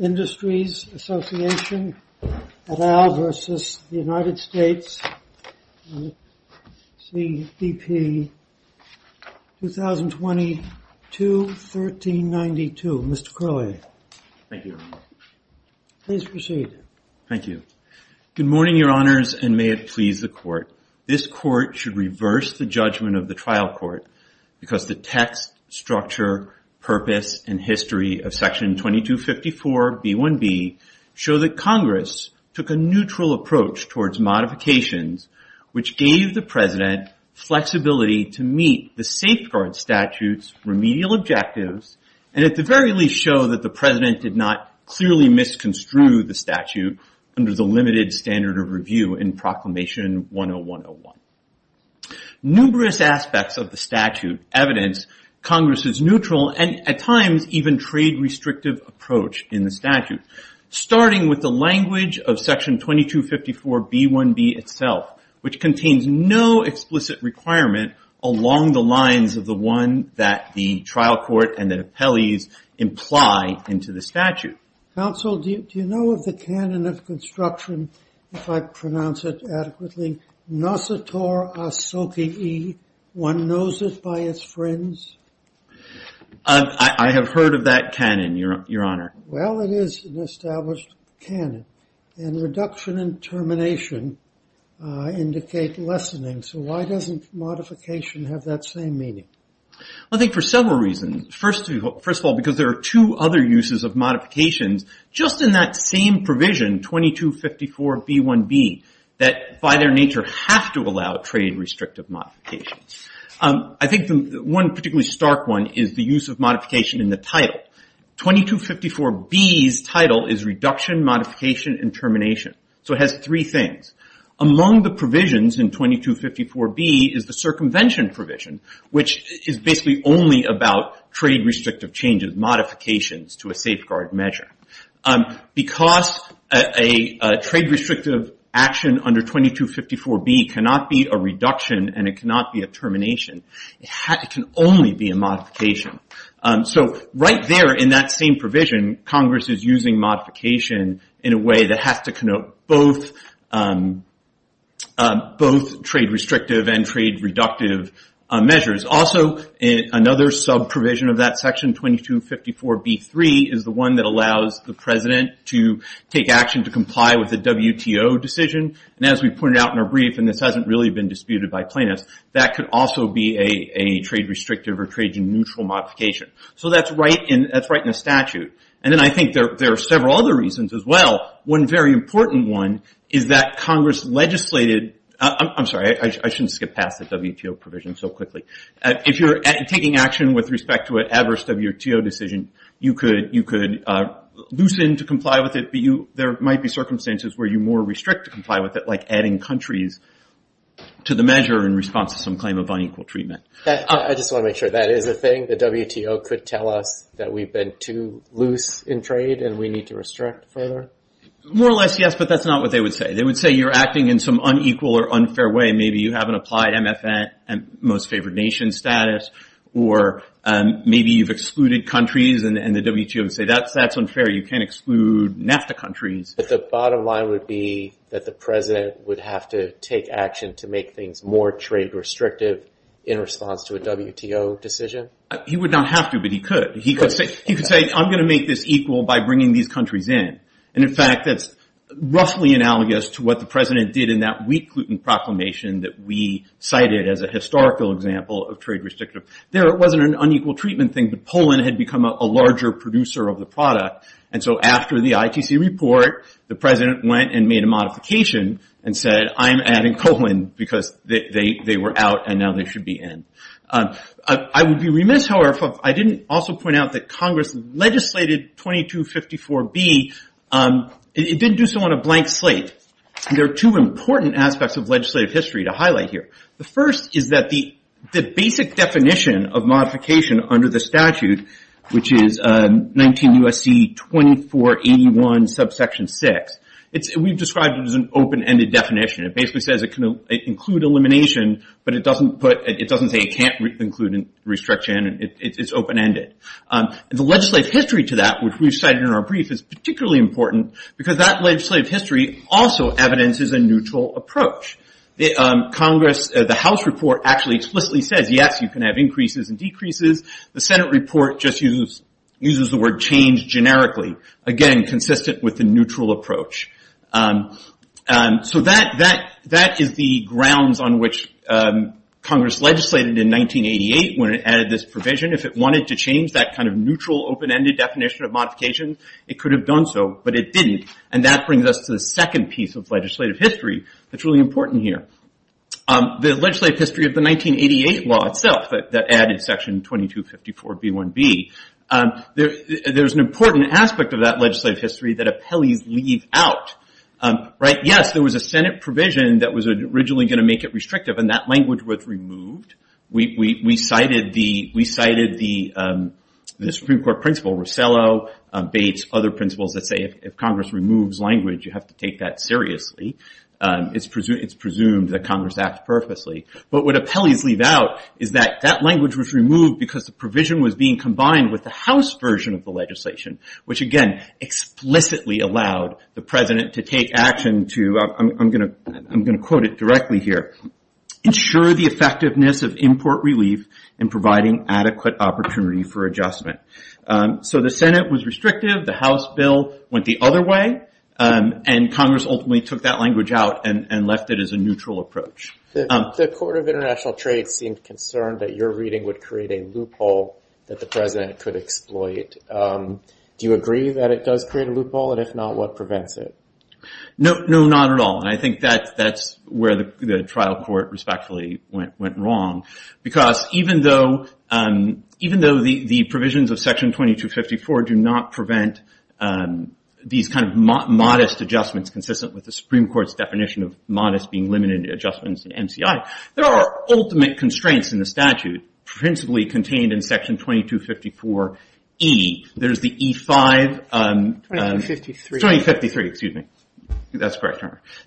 and CDP 2022-1392. Mr. Croy. Thank you. Please proceed. Thank you. Good morning, your honors, and may it please the court. This court should reverse the judgment of the trial court because the text, structure, purpose, and history of section 2254 B-1B show that Congress took a neutral approach towards modifications which gave the president flexibility to meet the safeguard statute's remedial objectives, and at the very least show that the president did not clearly misconstrue the statute under the limited standard of review in proclamation 101-01. Numerous aspects of the statute evidence Congress's neutral and at times even trade-restrictive approach in the statute, starting with the language of section 2254 B-1B itself, which contains no explicit requirement along the lines of the one that the trial court and the appellees imply into the statute. Counsel, do you know of the canon of construction, if I pronounce it adequately, Nossator Asokii? One knows it by its friends? I have heard of that canon, your honor. Well, it is an established canon, and reduction and termination indicate lessening, so why doesn't modification have that same meaning? I think for several reasons. First of all, because there are two other uses of modifications just in that same provision, 2254 B-1B, that by their nature have to allow trade-restrictive modifications. I think one particularly stark one is the use of modification in the title. 2254 B's title is reduction, modification, and termination, so it has three things. Among the provisions in 2254 B is the circumvention provision, which is basically only about trade-restrictive changes, modifications to a safeguard measure. Because a trade-restrictive action under 2254 B cannot be a reduction and it cannot be a termination, it can only be a modification. Right there in that same provision, Congress is using modification in a way that has to connote both trade-restrictive and trade-reductive measures. Also, another sub-provision of that section, 2254 B-3, is the one that allows the President to take action to comply with the WTO decision. As we pointed out in our brief, and this hasn't really been disputed by plaintiffs, that could also be a trade-restrictive or trade-neutral modification. So that's right in the statute. And then I think there are several other reasons as well. One very important one is that Congress legislated, I'm sorry, I shouldn't skip past the WTO provision so quickly. If you're taking action with respect to an adverse WTO decision, you could loosen to comply with it, but there might be circumstances where you more restrict to comply with it, like adding countries to the measure in response to some claim of unequal treatment. I just want to make sure, that is a thing? The WTO could tell us that we've been too loose in trade and we need to restrict further? More or less, yes, but that's not what they would say. They would say you're acting in some unequal or unfair way. Maybe you haven't applied MFN, most favored nation status, or maybe you've excluded countries and the WTO would say that's unfair, you can't exclude NAFTA But the bottom line would be that the President would have to take action to make things more trade-restrictive in response to a WTO decision? He would not have to, but he could. He could say, I'm going to make this equal by bringing these countries in. And in fact, that's roughly analogous to what the President did in that wheat gluten proclamation that we cited as a historical example of trade-restrictive. There wasn't an unequal treatment thing, but Poland had become a larger producer of the product. And so after the ITC report, the President went and made a modification and said, I'm adding Poland, because they were out and now they should be in. I would be remiss, however, if I didn't also point out that Congress legislated 2254B, it didn't do so on a blank slate. There are two important aspects of legislative history to highlight here. The first is that the basic definition of modification under the statute, which is 19 U.S.C. 2481, subsection 6, we've described it as an open-ended definition. It basically says it can include elimination, but it doesn't say it can't include restriction. It's open-ended. The legislative history to that, which we've cited in our brief, is particularly important because that legislative history also evidences a neutral approach. Congress, the House report actually explicitly says, yes, you can have increases and decreases. The Senate report just uses the word change generically, again, consistent with the neutral approach. That is the grounds on which Congress legislated in 1988 when it added this provision. If it wanted to change that kind of neutral, open-ended definition of modification, it could have done so, but it didn't. That brings us to the second piece of legislative history that's really important here. The legislative history of the 1988 law itself, that added section 2254B1B, there's an important aspect of that legislative history that appellees leave out. Yes, there was a Senate provision that was originally going to make it restrictive, and that language was removed. We cited the Supreme Court principal, Rosello, Bates, other principals that say if Congress removes language, you have to take that seriously. It's presumed that Congress acted purposely, but what appellees leave out is that that language was removed because the provision was being combined with the House version of the legislation, which again, explicitly allowed the President to take action to, I'm going to quote it directly here, ensure the effectiveness of import relief and providing adequate opportunity for adjustment. The Senate was restrictive, the House bill went the other way, and Congress ultimately took that language out and left it as a neutral approach. The Court of International Trade seemed concerned that your reading would create a loophole that the President could exploit. Do you agree that it does create a loophole, and if not, what prevents it? No, not at all, and I think that's where the trial court respectfully went wrong, because even though the provisions of section 2254 do not prevent these kind of modest adjustments consistent with the Supreme Court's definition of modest being limited adjustments in MCI, there are ultimate constraints in the statute, principally contained in section 2254E. There's the E-5- 2253. 2253, excuse me. That's correct,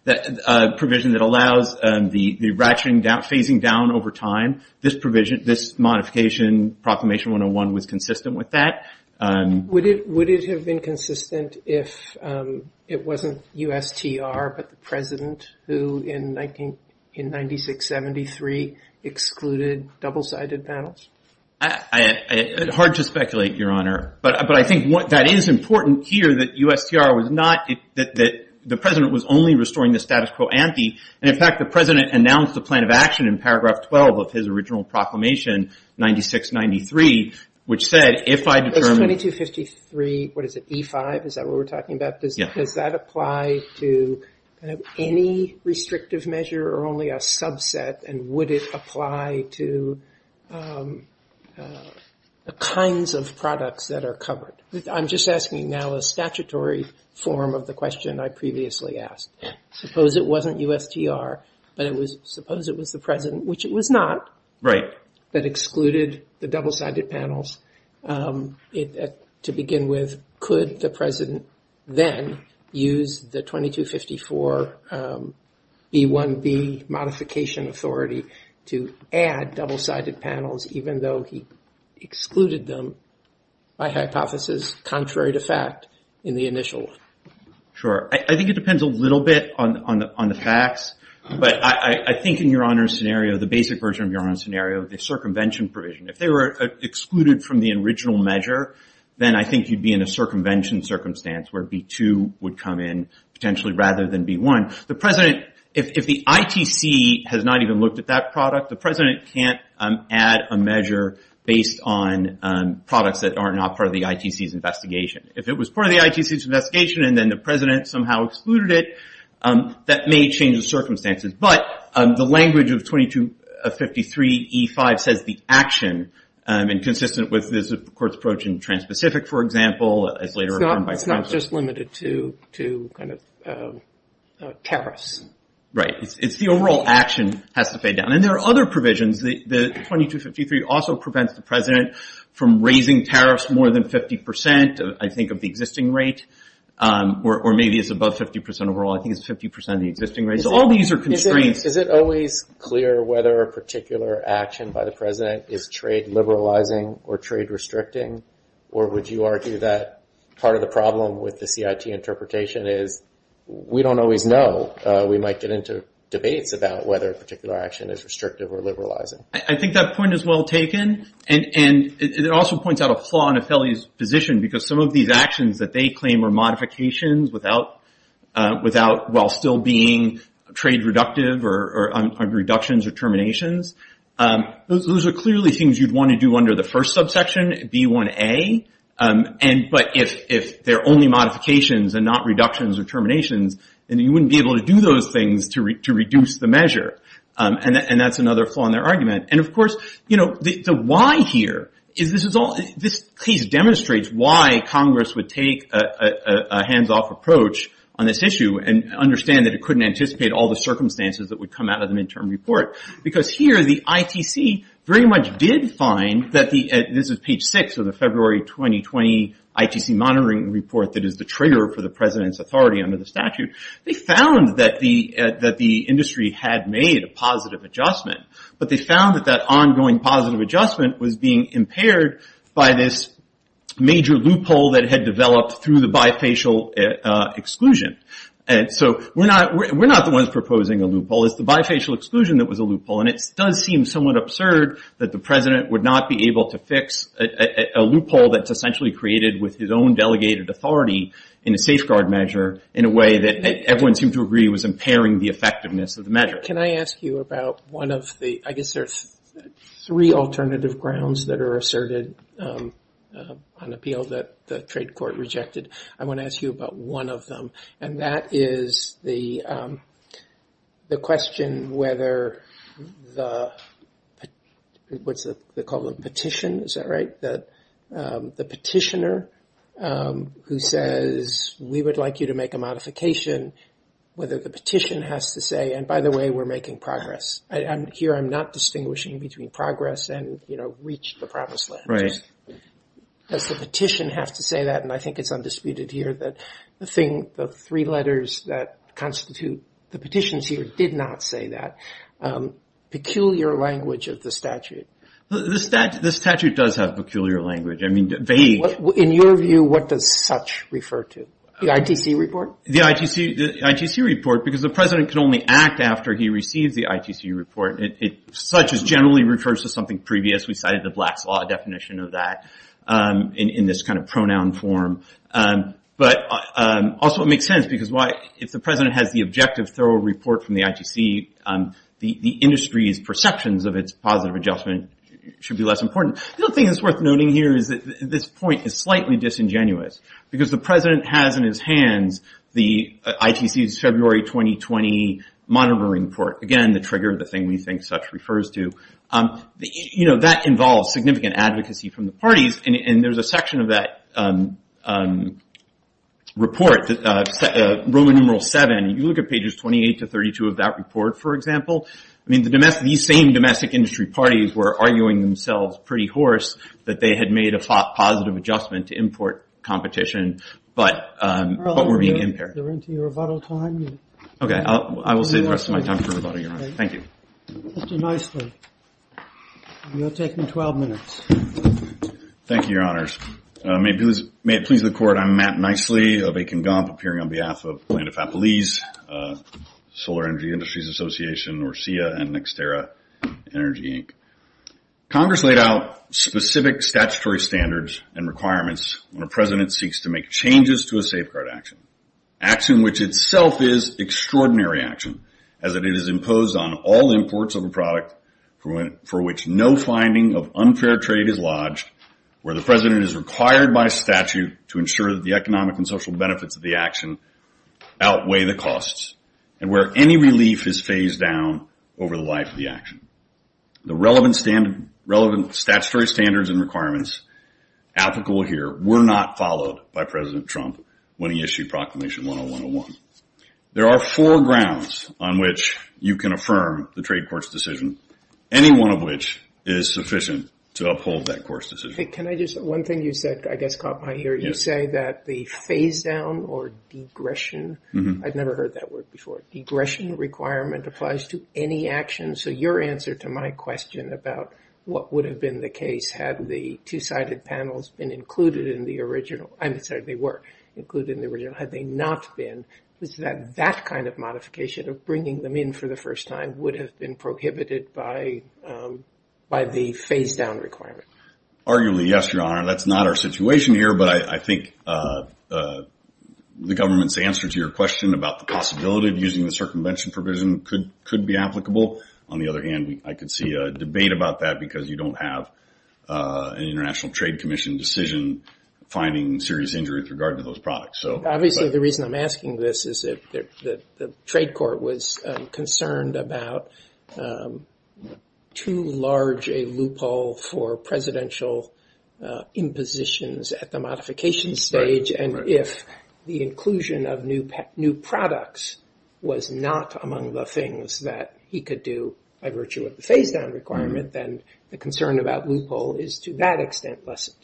that provision that allows the ratcheting down, phasing down over time. This provision, this modification, Proclamation 101, was consistent with that. Would it have been consistent if it wasn't USTR, but the President, who in 96-73 excluded double-sided panels? Hard to speculate, Your Honor, but I think that is important here that USTR was not, that the President was only restoring the status quo and, in fact, the President announced a plan of action in paragraph 12 of his original proclamation, 96-93, which said, if I determine- Does 2253, what is it, E-5, is that what we're talking about? Does that apply to any restrictive measure or only a subset, and would it apply to the kinds of products that are covered? I'm just asking now a statutory form of the question I previously asked. Suppose it wasn't USTR, but it was- Suppose it was the President, which it was not, that excluded the double-sided panels. To begin with, could the President then use the 2254 B-1B modification authority to add double-sided panels, even though he excluded them by hypothesis, contrary to fact, in the initial? Sure. I think it depends a little bit on the facts, but I think in Your Honor's scenario, the basic version of Your Honor's scenario, the circumvention provision, if they were excluded from the original measure, then I think you'd be in a circumvention circumstance where B-2 would come in, potentially, rather than B-1. The President, if the ITC has not even looked at that product, the President can't add a measure based on products that are not part of the ITC's investigation. If it was part of the ITC's investigation, and then the President somehow excluded it, that may change the circumstances, but the language of 2253 E-5 says the action, and consistent with this Court's approach in Trans-Pacific, for example, as later It's not just limited to tariffs. Right. It's the overall action has to pay down. And there are other provisions. The 2253 also prevents the President from raising tariffs more than 50%, I think, of the existing rate, or maybe it's above 50% overall. I think it's 50% of the existing rate. So all these are constraints. Is it always clear whether a particular action by the President is trade liberalizing or trade restricting? Or would you argue that part of the problem with the CIT interpretation is, we don't always know, we might get into debates about whether a particular action is restrictive or liberalizing? I think that point is well taken. And it also points out a flaw in Affili's position, because some of these actions that they claim are reductions or terminations, those are clearly things you'd want to do under the first subsection, B1A. But if they're only modifications and not reductions or terminations, then you wouldn't be able to do those things to reduce the measure. And that's another flaw in their argument. And of course, the why here is this case demonstrates why Congress would take a hands-off approach on this issue and understand that it would come out of the mid-term report. Because here, the ITC very much did find, this is page six of the February 2020 ITC Monitoring Report that is the trigger for the President's authority under the statute. They found that the industry had made a positive adjustment. But they found that that ongoing positive adjustment was being impaired by this major loophole that had developed through the bifacial exclusion. And so we're not the ones proposing a loophole. It's the bifacial exclusion that was a loophole. And it does seem somewhat absurd that the President would not be able to fix a loophole that's essentially created with his own delegated authority in a safeguard measure in a way that everyone seemed to agree was impairing the effectiveness of the measure. Can I ask you about one of the, I guess there's three alternative grounds that are asserted on appeal that the trade court rejected. I want to ask you about one of them. And that is the question whether the, what's it called, a petition, is that right? The petitioner who says, we would like you to make a modification, whether the petition has to say, and by the way, we're making progress. Here, I'm not distinguishing between making progress and, you know, reach the promised land. Does the petition have to say that? And I think it's undisputed here that the thing, the three letters that constitute the petitions here did not say that. Peculiar language of the statute. The statute does have peculiar language. I mean, vague. In your view, what does such refer to? The ITC report? The ITC report, because the president can only act after he receives the ITC report. It such as generally refers to something previous. We cited the Black's Law definition of that in this kind of pronoun form. But also it makes sense because why, if the president has the objective thorough report from the ITC, the industry's perceptions of its positive adjustment should be less important. The other thing that's worth noting here is that this point is slightly disingenuous. Because the president has in his hands the ITC's February 2020 monitoring report. Again, the trigger, the thing we think such refers to. You know, that involves significant advocacy from the parties. And there's a section of that report, Roman numeral seven. You look at pages 28 to 32 of that report, for example. I mean, these same domestic industry parties were arguing themselves pretty hoarse that they had made a positive adjustment to import competition, but were being impaired. They're into your rebuttal time. Okay, I will save the rest of my time for rebuttal, Your Honor. Thank you. Mr. Nicely, you're taking 12 minutes. Thank you, Your Honors. May it please the Court, I'm Matt Nicely of Akin Gump, appearing on behalf of Planeta Fapolese, Solar Energy Industries Association, or SIA and Nexterra Energy, Inc. Congress laid out specific statutory standards and requirements when a president seeks to make changes to a safeguard action, action which itself is extraordinary action, as it is imposed on all imports of a product for which no finding of unfair trade is lodged, where the president is required by statute to ensure that the economic and social benefits of the action outweigh the costs, and where any relief is phased down over the life of the action. The relevant statutory standards and requirements applicable here were not followed by President Trump when he issued Proclamation 10101. There are four grounds on which you can affirm the trade court's decision, any one of which is sufficient to uphold that court's decision. Can I just, one thing you said, I guess, caught my ear. You say that the phase-down or digression, I've never heard that word before, digression requirement applies to any action. So your answer to my question about what would have been the case had the two-sided panels been included in the original, I'm sorry, they were included in the original, had they not been, was that that kind of modification of bringing them in for the first time would have been prohibited by the phase-down requirement? Arguably, yes, Your Honor. That's not our situation here, but I think the government's answer to your question about the possibility of using the circumvention provision could be applicable. On the other hand, I could see a debate about that because you don't have an International Trade Commission decision finding serious injury with regard to those products. Obviously, the reason I'm asking this is that the trade court was concerned about too large a loophole for presidential impositions at the modification stage. And if the inclusion of new products was not among the things that he could do by virtue of the phase-down requirement, then the concern about loophole is, to that extent, lessened.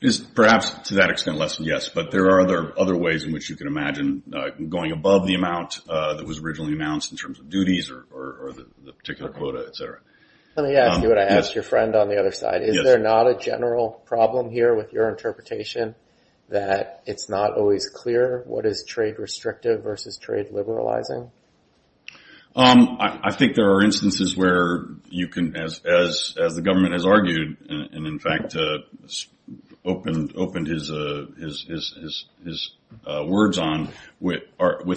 It is perhaps, to that extent, lessened, yes. But there are other ways in which you can imagine going above the amount that was originally announced in terms of duties or the particular quota, et cetera. Let me ask you what I asked your friend on the other side. Is there not a general problem here with your interpretation that it's not always clear what is trade restrictive versus trade liberalizing? I think there are instances where you can, as the government has argued and in fact opened his words on, with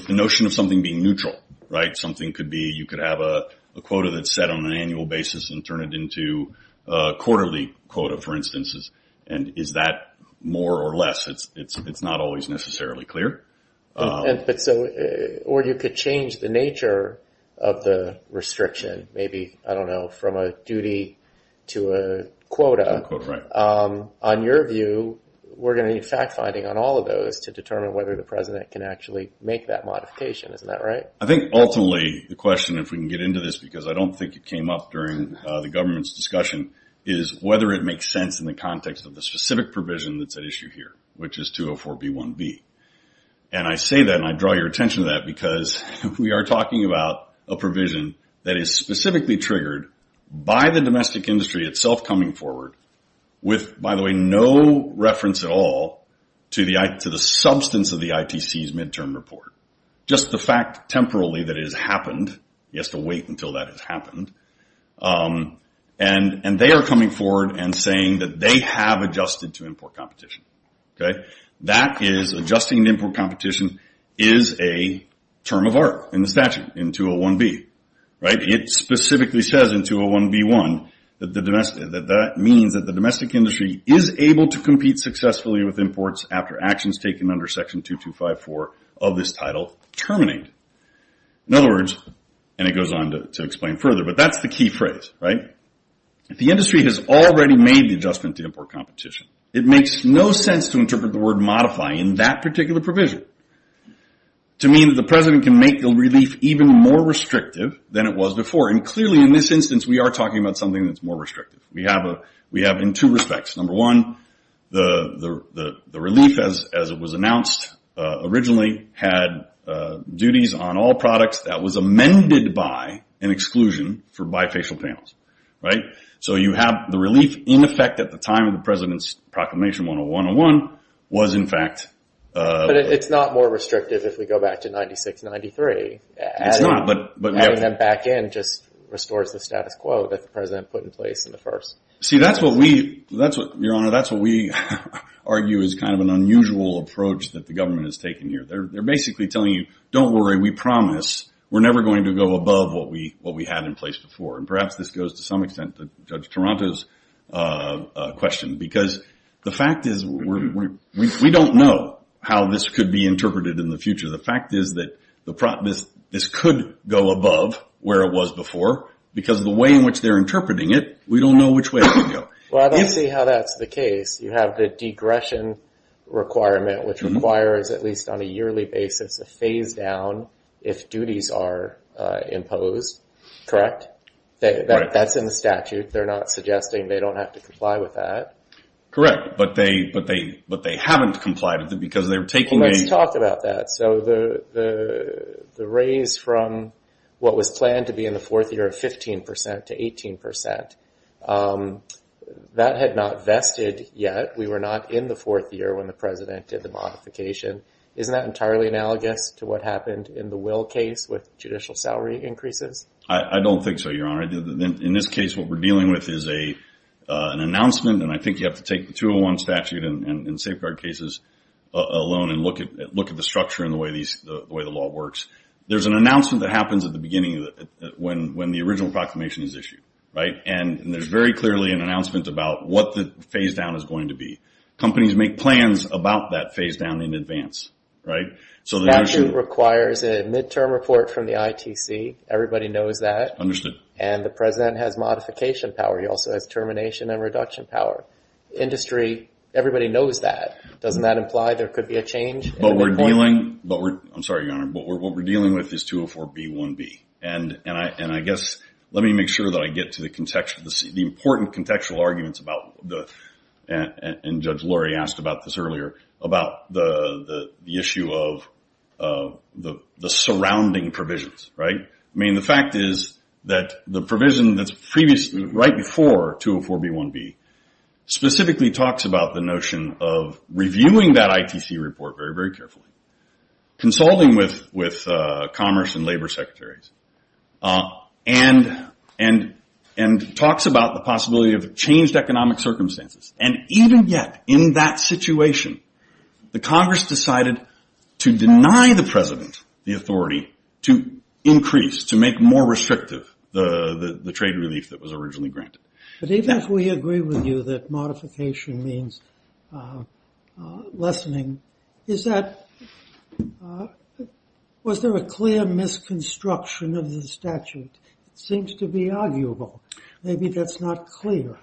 the notion of something being neutral, right? Something could be you could have a quota that's set on an annual basis and turn it into a quarterly quota, for instance. And is that more or less? It's not always necessarily clear. But so, or you could change the nature of the restriction, maybe, I don't know, from a duty to a quota. To a quota, right. On your view, we're going to need fact-finding on all of those to determine whether the president can actually make that modification. Isn't that right? I think, ultimately, the question, if we can get into this, because I don't think it came up during the government's discussion, is whether it makes sense in the context of the specific provision that's at issue here, which is 204B1B. And I say that, and I draw your attention to that, because we are talking about a provision that is specifically triggered by the domestic industry itself coming forward with, by the way, no reference at all to the substance of the ITC's midterm report. Just the fact, temporally, that it has happened. He has to wait until that has happened, meaning that they have adjusted to import competition. Okay. That is adjusting to import competition is a term of art in the statute, in 201B, right. It specifically says in 201B1 that the domestic, that that means that the domestic industry is able to compete successfully with imports after actions taken under section 2254 of this title terminate. In other words, and it goes on to explain further, but that's the key phrase, right. If the industry has already made the adjustment to import competition, it makes no sense to interpret the word modify in that particular provision to mean that the president can make the relief even more restrictive than it was before. And clearly, in this instance, we are talking about something that's more restrictive. We have in two respects. Number one, the relief, as it was for bifacial panels, right. So you have the relief, in effect, at the time of the president's proclamation, 10101, was in fact. But it's not more restrictive if we go back to 9693. It's not. But having them back in just restores the status quo that the president put in place in the first. See, that's what we, that's what, your honor, that's what we argue is kind of an unusual approach that the government has taken here. They're basically telling you, don't worry, we promise we're never going to go above what we had in place before. And perhaps this goes to some extent to Judge Toronto's question, because the fact is we don't know how this could be interpreted in the future. The fact is that this could go above where it was before, because the way in which they're interpreting it, we don't know which way it could go. Well, I don't see how that's the case. You have the digression requirement, which requires, at least on a yearly basis, a phase down if duties are imposed, correct? That's in the statute. They're not suggesting they don't have to comply with that. Correct. But they haven't complied with it because they're taking a... That had not vested yet. We were not in the fourth year when the president did the modification. Isn't that entirely analogous to what happened in the Will case with judicial salary increases? I don't think so, your honor. In this case, what we're dealing with is an announcement, and I think you have to take the 201 statute and safeguard cases alone and look at the structure and the way the law works. There's an announcement that happens at the beginning when the original proclamation is issued, right? And there's very clearly an announcement about what the phase down is going to be. Companies make plans about that phase down in advance, right? Statute requires a midterm report from the ITC. Everybody knows that. Understood. And the president has modification power. He also has termination and reduction power. Industry, everybody knows that. Doesn't that imply there could be a change? But we're dealing... I'm sorry, your honor. But what we're dealing with is 204B1B. And I guess, let me make sure that I get to the important contextual arguments about... And Judge Lurie asked about this earlier, about the issue of the surrounding provisions, right? I mean, the fact is that the provision that's right before 204B1B specifically talks about the notion of reviewing that ITC report very, very carefully, consulting with commerce and labor secretaries, and talks about the possibility of changed economic circumstances. And even yet, in that situation, the Congress decided to deny the president the authority to increase, to make more restrictive the trade relief that was originally granted. But even if we agree with you that modification means lessening, is that... Was there a clear misconstruction of the statute? It seems to be arguable. Maybe that's not clear.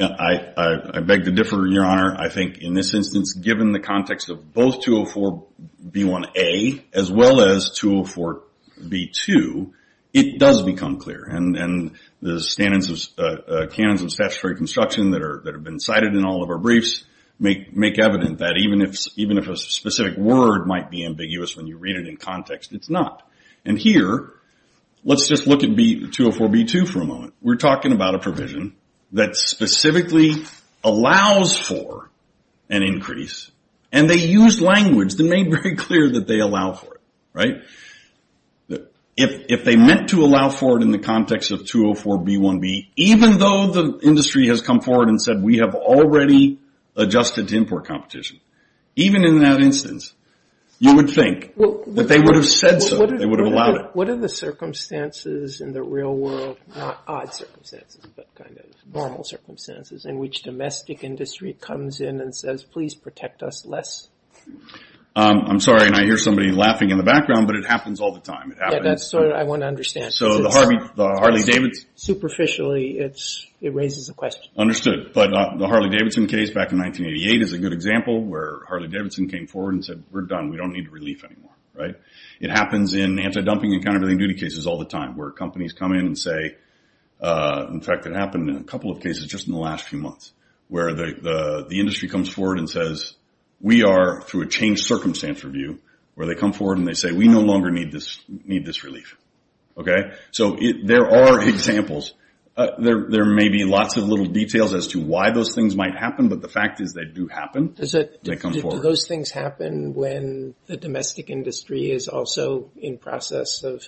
I beg to differ, your honor. I think, in this instance, given the context of both 204B1A as well as 204B2, it does become clear. And the standards of... Canons of statutory construction that have been cited in all of our briefs make evident that even if a specific word might be that specifically allows for an increase, and they use language that made very clear that they allow for it, right? If they meant to allow for it in the context of 204B1B, even though the industry has come forward and said, we have already adjusted to import competition, even in that instance, you would think that they would have said so, they would have allowed it. What are the circumstances in the real world, not odd circumstances, but kind of normal circumstances, in which domestic industry comes in and says, please protect us less? I'm sorry, and I hear somebody laughing in the background, but it happens all the time. Yeah, that's what I want to understand. So the Harley-Davidson... Superficially, it raises a question. Understood. But the Harley-Davidson case back in 1988 is a good example where Harley-Davidson came forward and said, we're done. We don't want to dump anything in countervailing duty cases all the time, where companies come in and say, in fact, it happened in a couple of cases just in the last few months, where the industry comes forward and says, we are, through a changed circumstance review, where they come forward and they say, we no longer need this relief, okay? So there are examples. There may be lots of little details as to why those things might happen, but the fact is they do happen. Do those things happen when the domestic industry is also in process of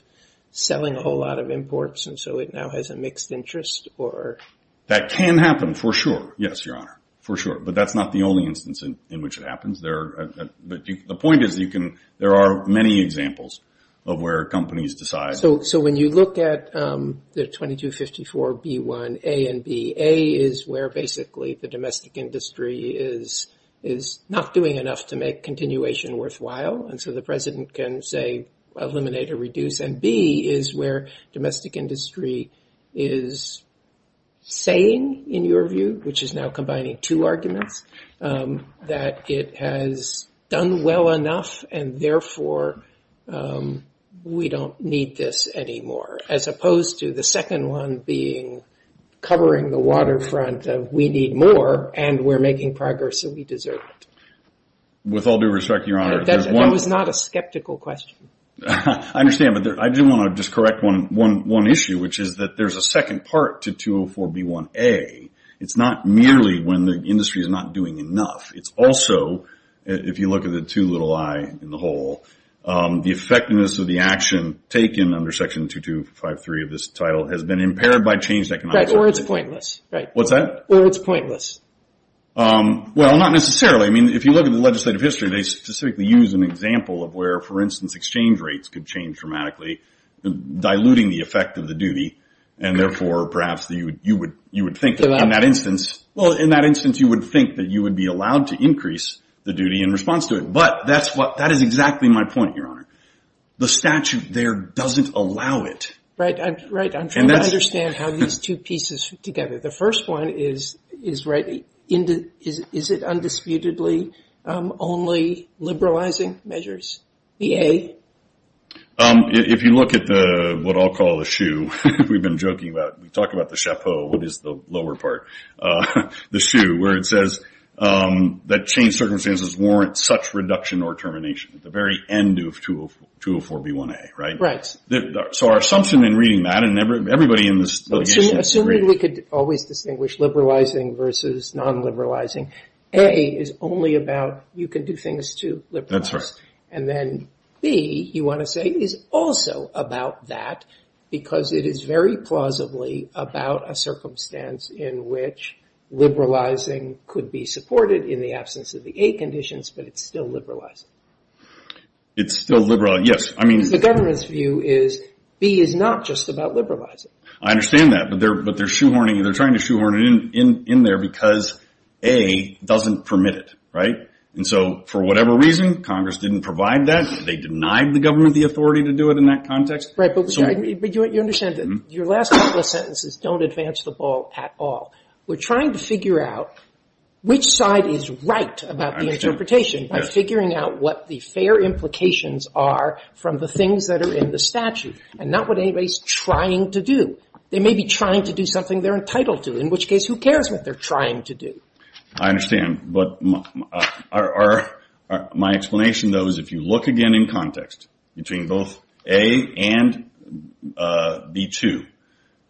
selling a whole lot of imports, and so it now has a mixed interest, or...? That can happen, for sure. Yes, Your Honor, for sure. But that's not the only instance in which it happens. The point is, there are many examples of where companies decide... So when you look at the 2254B1A and B, A is where basically the domestic industry is not doing enough to make continuation worthwhile, and so the president can, say, eliminate or reduce. And B is where domestic industry is saying, in your view, which is now combining two arguments, that it has done well enough, and therefore, we don't need this anymore, as opposed to the second one being covering the waterfront of, we need more, and we're making progress, and we deserve it. With all due respect, Your Honor... That was not a skeptical question. I understand, but I do want to just correct one issue, which is that there's a second part to 204B1A. It's not merely when the industry is not doing enough. It's also, if you look at the 2254B1A in the whole, the effectiveness of the action taken under Section 2253 of this title has been impaired by changed economic circumstances. Right, or it's pointless. What's that? Or it's pointless. Well, not necessarily. I mean, if you look at the legislative history, they specifically use an example of where, for instance, exchange rates could change dramatically, diluting the effect of the duty, and therefore, perhaps, you would think in that That is exactly my point, Your Honor. The statute there doesn't allow it. Right, I'm trying to understand how these two pieces fit together. The first one is, is it undisputedly only liberalizing measures, BA? If you look at what I'll call the shoe, we've been joking about, we talk about the chapeau, what is the lower part? The shoe, where it says that changed circumstances warrant such reduction or termination at the very end of 204B1A, right? Right. So our assumption in reading that, and everybody in this Assuming we could always distinguish liberalizing versus non-liberalizing, A is only about you can do things to And then B, you want to say, is also about that, because it is very plausibly about a circumstance in which liberalizing could be supported in the absence of the A conditions, but it's still liberalizing. It's still liberalizing, yes. I mean, the government's view is B is not just about liberalizing. I understand that, but they're trying to shoehorn it in there because A doesn't permit it, right? And so for whatever reason, Congress didn't provide that. They denied the government the authority to do it in that context. Right, but you understand that your last couple of sentences don't advance the ball at all. We're trying to figure out which side is right about the interpretation by figuring out what the fair implications are from the things that are in the statute, and not what anybody's trying to do. They may be trying to do something they're entitled to, in which case, who cares what they're trying to do? I understand, but my explanation, though, is if you look again in context between both A and B-2,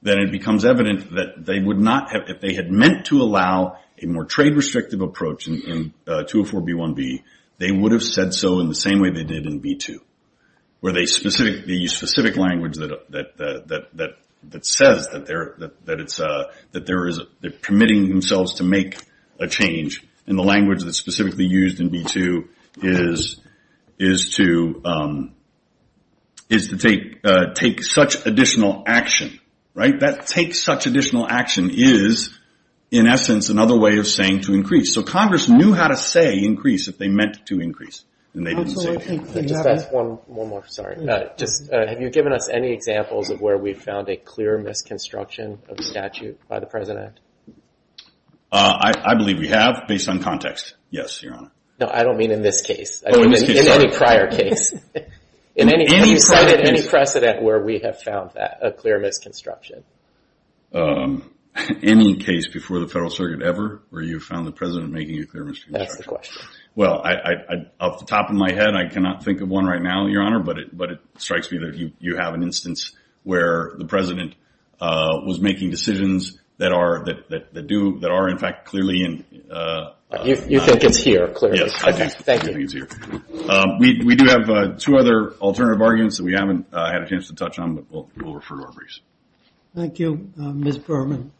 then it becomes evident that they would not have, if they had meant to allow a more trade-restrictive approach in 204-B-1-B, they would have said so in the same way they did in B-2, where the specific language that says that they're permitting themselves to make a change in the language that's specifically used in B-2 is to take such additional action, right? That take such additional action is, in essence, another way of saying to increase. So Congress knew how to say increase if they meant to increase, and they didn't say it. Just ask one more, sorry. Have you given us any examples of where we've found a clear misconstruction of the statute by the present act? I believe we have, based on context. Yes, your honor. No, I don't mean in this case. In any prior case. In any precedent where we have found that, a clear misconstruction. Any case before the Federal Circuit ever where you found the president making a clear misconstruction? That's the question. Well, off the top of my head, I cannot think of one right now, your honor, but it strikes me that you have an instance where the president was making decisions that are, in fact, clearly in... You think it's here, clearly. Yes, I do. I think it's here. We do have two other alternative arguments that we haven't had a chance to touch on, but we'll refer to our briefs. Thank you. Ms. Berman.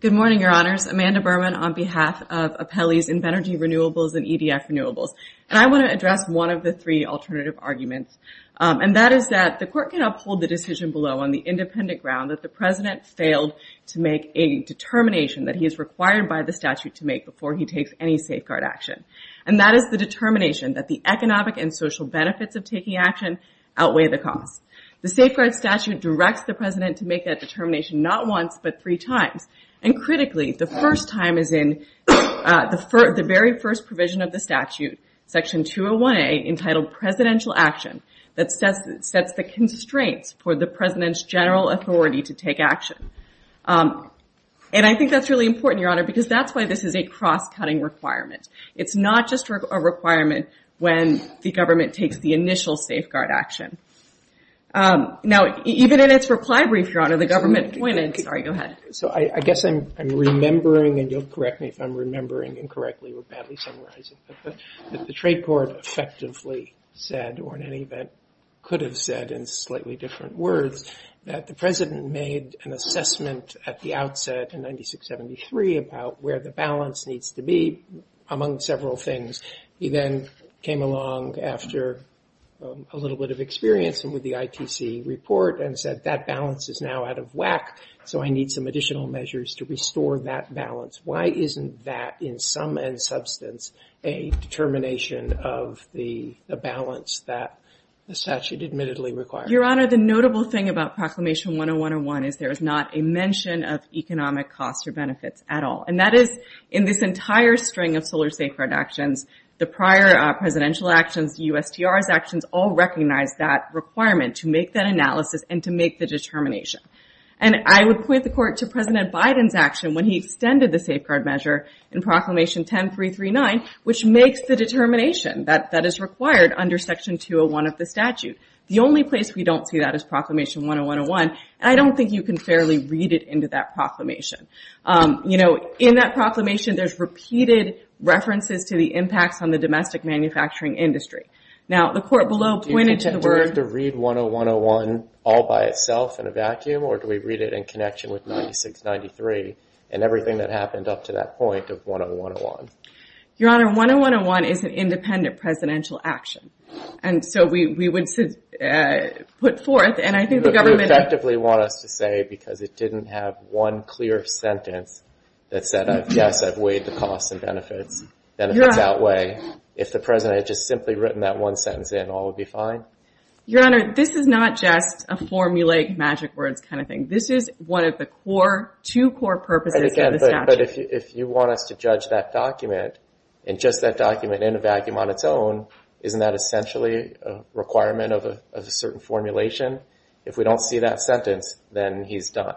Good morning, your honors. Amanda Berman on behalf of Appellees in Energy Renewables and EDF Renewables. And I want to address one of the three alternative arguments, and that is that the court can uphold the decision below on the independent ground that the president failed to make a determination that he is required by the statute to make before he takes any safeguard action. And that is the determination that the economic and social benefits of taking action outweigh the cost. The safeguard statute directs the president to make that determination not once, but three times. And critically, the first time is in the very first provision of the statute, section 201A, entitled Presidential Action, that sets the constraints for the president's general authority to take action. And I think that's really important, your honor, because that's why this is a cross-cutting requirement. It's not just a requirement when the government takes the initial safeguard action. Now, even in its reply brief, your honor, the government pointed, sorry, go ahead. So I guess I'm remembering, and you'll correct me if I'm remembering incorrectly or badly summarizing, but the trade court effectively said, or in any event could have said in slightly different words, that the president made an assessment at the outset in 96-73 about where the balance needs to be. Among several things, he then came along after a little bit of experience with the ITC report and said that balance is now out of whack, so I need some additional measures to restore that balance. Why isn't that, in some substance, a determination of the balance that the statute admittedly requires? Your honor, the notable thing about Proclamation 10101 is there is not a mention of economic costs or benefits at all, and that is in this entire string of solar safeguard actions, the prior presidential actions, the USTR's actions, all recognize that requirement to make that analysis and to make the determination. And I would point the court to President Biden's action when he extended the safeguard measure in Proclamation 10339, which makes the determination that is required under Section 201 of the statute. The only place we don't see that is Proclamation 10101, and I don't think you can fairly read it into that proclamation. You know, in that proclamation, there's repeated references to the impacts on the domestic manufacturing industry. Now, the court below pointed to the word... Do we have to read 10101 all by itself in a vacuum, or do we read it in connection with 96-93 and everything that happened up to that point of 10101? Your honor, 10101 is an independent presidential action, and so we would put forth, and I think you effectively want us to say, because it didn't have one clear sentence that said, yes, I've weighed the costs and benefits, benefits outweigh, if the president had just simply written that one sentence in, all would be fine? Your honor, this is not just a formulate magic words kind of thing. This is one of the core, two core purposes of the statute. But if you want us to judge that document, and just that document in a vacuum on its own, isn't that essentially a requirement of a certain formulation? If we don't see that sentence, then he's done.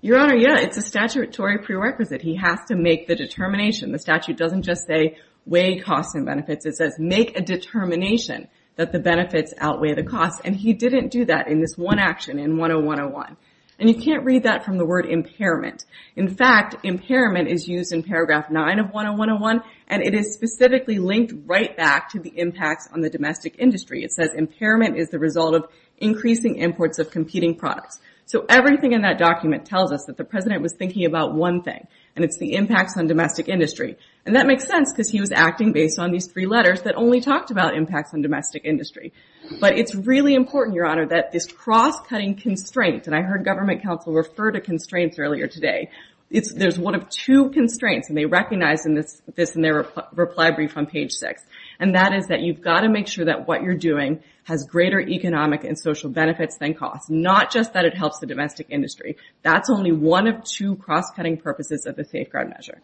Your honor, yeah, it's a statutory prerequisite. He has to make the determination. The statute doesn't just say, weigh costs and benefits. It says, make a determination that the benefits outweigh the costs. And he didn't do that in this one action in 10101. And you can't read that from the word impairment. In fact, impairment is used in paragraph nine of 10101, and it is specifically linked right back to the impacts on the domestic industry. It says, impairment is the result of increasing imports of competing products. So everything in that document tells us that the president was thinking about one thing, and it's the impacts on domestic industry. And that makes sense because he was acting based on these three letters that only talked about impacts on domestic industry. But it's really important, your honor, that this cross-cutting constraint, and I heard government counsel refer to constraints earlier today. There's one of two constraints, and they recognize this in their reply brief on page six. And that is that you've got to make sure that what you're doing has greater economic and social benefits than costs, not just that it helps the domestic industry. That's only one of two cross-cutting purposes of the safeguard measure.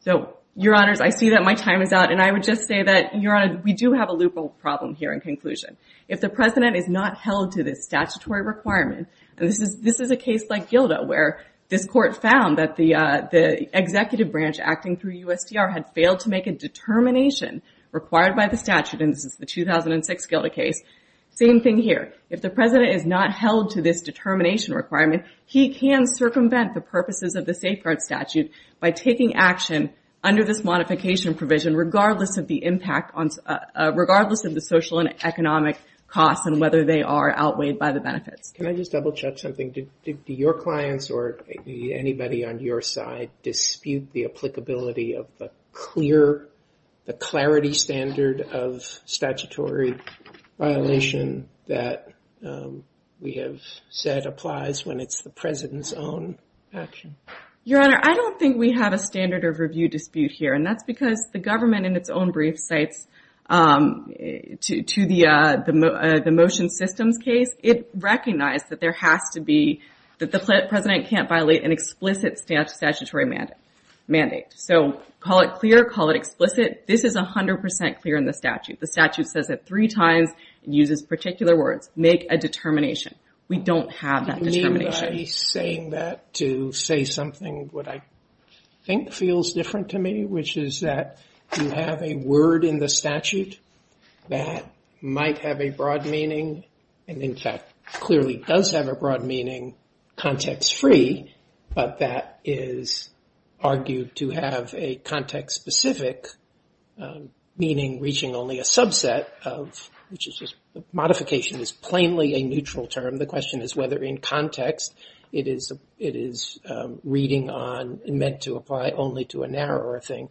So, your honors, I see that my time is out, and I would just say that, your honor, we do have a loophole problem here in conclusion. If the president is not held to this statutory requirement, and this is a case like GILDA where this court found that the executive branch acting through USTR had failed to make a determination required by the statute, and this is the 2006 GILDA case, same thing here. If the president is not held to this determination requirement, he can circumvent the purposes of the safeguard statute by taking action under this modification provision, regardless of the impact on, regardless of the social and economic costs and whether they are outweighed by the benefits. Can I just double check something? Do your clients or anybody on your side dispute the applicability of the clarity standard of statutory violation that we have said applies when it's the president's own action? Your honor, I don't think we have a standard of review dispute here, and that's because the government in its own brief cites to the motion systems case, it recognized that there has to be, that the president can't violate an explicit statutory mandate. So call it clear, call it explicit. This is 100% clear in the statute. The statute says it three times and uses particular words, make a determination. We don't have that determination. Do you mean by saying that to say something that I think feels different to me, which is that you have a word in the statute that might have a broad meaning, and in fact clearly does have a broad meaning, context-free, but that is argued to have a context-specific meaning reaching only a subset of, which is just modification is plainly a neutral term. The question is whether in context it is reading meant to apply only to a narrower thing.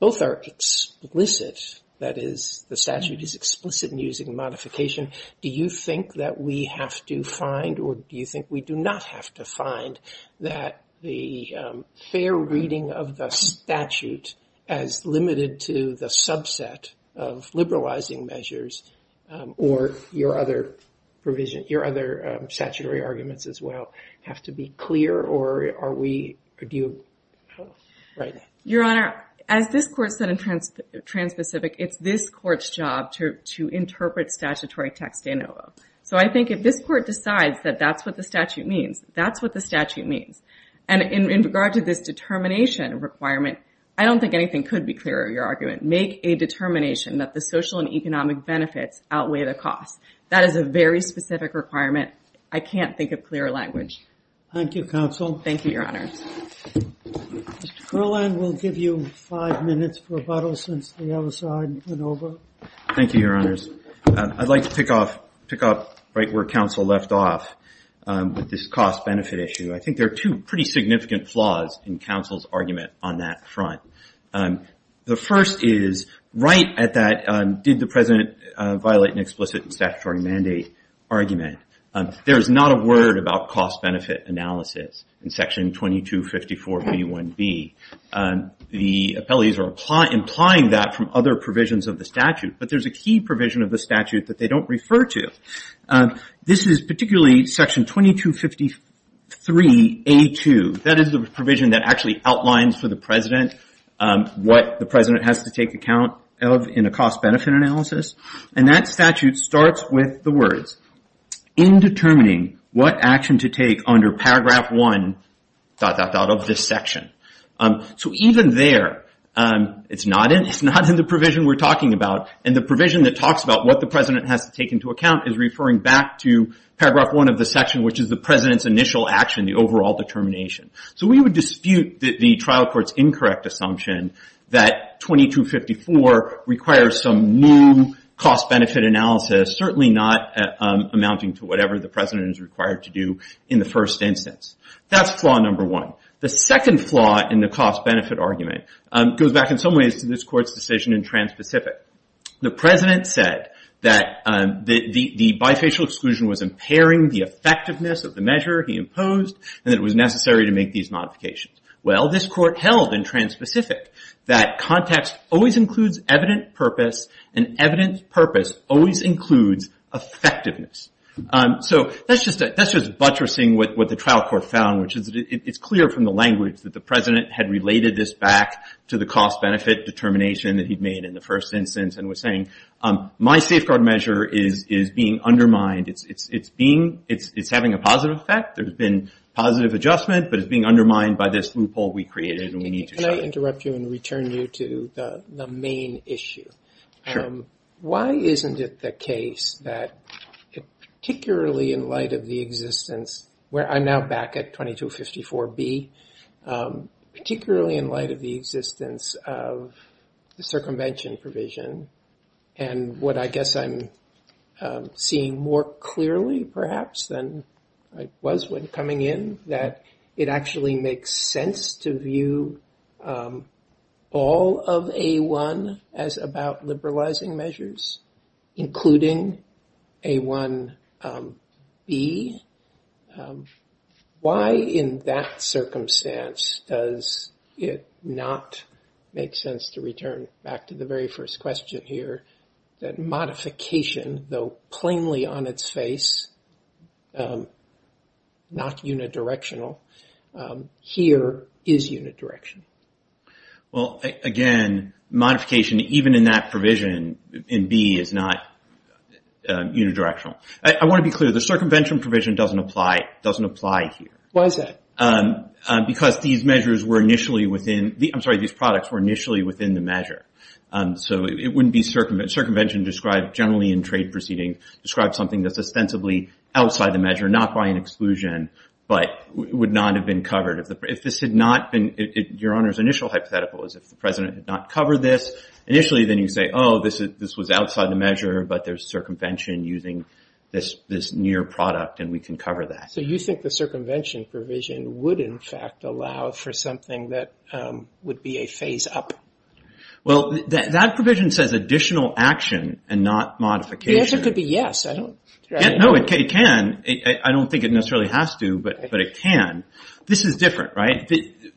Both are explicit, that is the statute is explicit in using modification. Do you think that we have to find, or do you think we do not have to find that the fair reading of the statute as limited to the subset of liberalizing measures, or your other statutory arguments as well, have to be clear? Your Honor, as this court said in Trans-Pacific, it's this court's job to interpret statutory text de novo. So I think if this court decides that that's what the statute means, that's what the statute means. And in regard to this determination requirement, I don't think could be clearer, your argument. Make a determination that the social and economic benefits outweigh the cost. That is a very specific requirement. I can't think of clearer language. Thank you, counsel. Thank you, Your Honor. Mr. Kerlin, we'll give you five minutes for rebuttal since the other side went over. Thank you, Your Honors. I'd like to pick up right where counsel left off with this cost-benefit issue. I think there are two pretty The first is right at that did the President violate an explicit statutory mandate argument. There is not a word about cost-benefit analysis in Section 2254b1b. The appellees are implying that from other provisions of the statute, but there's a key provision of the statute that they don't refer to. This is particularly Section 2253a2. That is the provision that actually outlines for the President what the President has to take account of in a cost-benefit analysis. And that statute starts with the words, in determining what action to take under paragraph one dot, dot, dot of this section. So even there, it's not in the provision we're talking about. And the provision that talks about what the President has to take into account is referring back to paragraph one of the section, which is the President's initial action, the overall determination. So we would dispute the trial court's incorrect assumption that 2254 requires some new cost-benefit analysis, certainly not amounting to whatever the President is required to do in the first instance. That's flaw number one. The second flaw in the cost-benefit argument goes back in some ways to this court's decision in Trans-Pacific. The President said that the necessary to make these modifications. Well, this court held in Trans-Pacific that context always includes evident purpose, and evident purpose always includes effectiveness. So that's just buttressing what the trial court found, which is that it's clear from the language that the President had related this back to the cost-benefit determination that he'd made in the first instance and was saying, my safeguard measure is being undermined. It's having a positive effect. There's been positive adjustment, but it's being undermined by this loophole we created and we need to Can I interrupt you and return you to the main issue? Sure. Why isn't it the case that, particularly in light of the existence, where I'm now back at 2254B, particularly in light of the existence of the circumvention provision and what I guess I'm seeing more clearly perhaps than I was when coming in, that it actually makes sense to view all of A1 as about liberalizing measures, including A1B? Why in that circumstance does it not make sense to return back to the very first question here that modification, though plainly on its face, not unidirectional, here is unidirectional? Well, again, modification even in that provision in B is not unidirectional. I want to be clear, the circumvention provision doesn't apply here. Why is that? Because these products were initially within the measure. So it wouldn't be circumvention described generally in trade proceedings, described something that's ostensibly outside the measure, not by an exclusion, but would not have been covered. Your Honor's initial hypothetical is if the President had not covered this initially, then you'd say, oh, this was outside the measure, but there's So you think the circumvention provision would in fact allow for something that would be a phase up? Well, that provision says additional action and not modification. The answer could be yes. No, it can. I don't think it necessarily has to, but it can. This is different, right?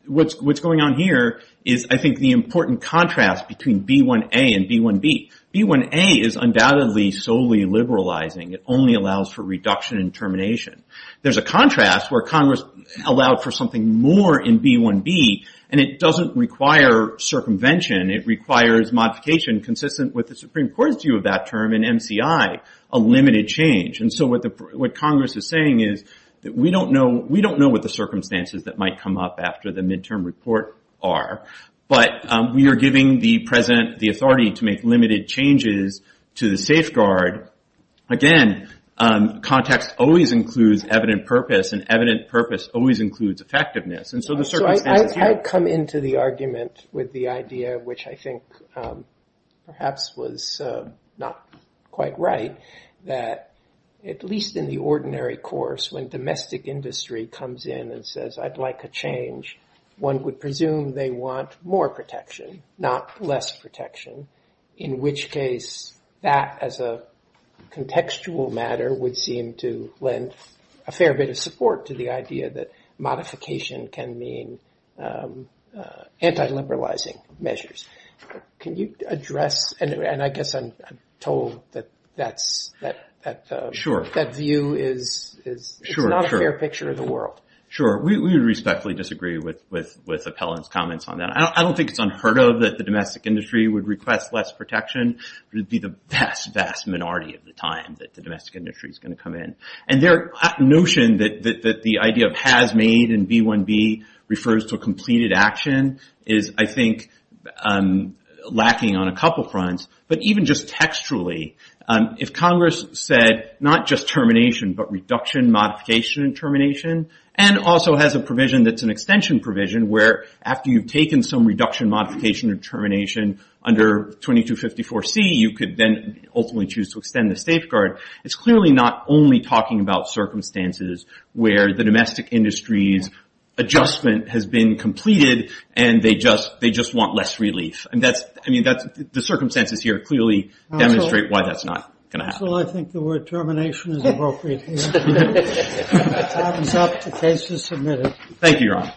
What's going on here is I think the important contrast between B1A and B1B. B1A is undoubtedly solely liberalizing. It only allows for reduction in termination. There's a contrast where Congress allowed for something more in B1B, and it doesn't require circumvention. It requires modification consistent with the Supreme Court's view of that term in MCI, a limited change. So what Congress is saying is that we don't know what the circumstances that might come up after the midterm report are, but we are giving the President the authority to make limited changes to the safeguard. Again, context always includes evident purpose, and evident purpose always includes effectiveness. And so the circumstances here- I've come into the argument with the idea, which I think perhaps was not quite right, that at least in the ordinary course, when domestic industry comes in and says, I'd like a change, one would in which case that as a contextual matter would seem to lend a fair bit of support to the idea that modification can mean anti-liberalizing measures. Can you address- and I guess I'm told that view is not a fair picture of the world. Sure. We respectfully disagree with Appellant's would request less protection. It would be the vast, vast minority of the time that the domestic industry is going to come in. And their notion that the idea of has made in B1B refers to a completed action is, I think, lacking on a couple fronts. But even just textually, if Congress said not just termination, but reduction, modification, and termination, and also has a provision that's where after you've taken some reduction, modification, and termination under 2254C, you could then ultimately choose to extend the safeguard. It's clearly not only talking about circumstances where the domestic industry's adjustment has been completed and they just want less relief. The circumstances here clearly demonstrate why that's not going to happen. I think the word termination is appropriate here. Time's up. The case is submitted. Thank you, Your Honor.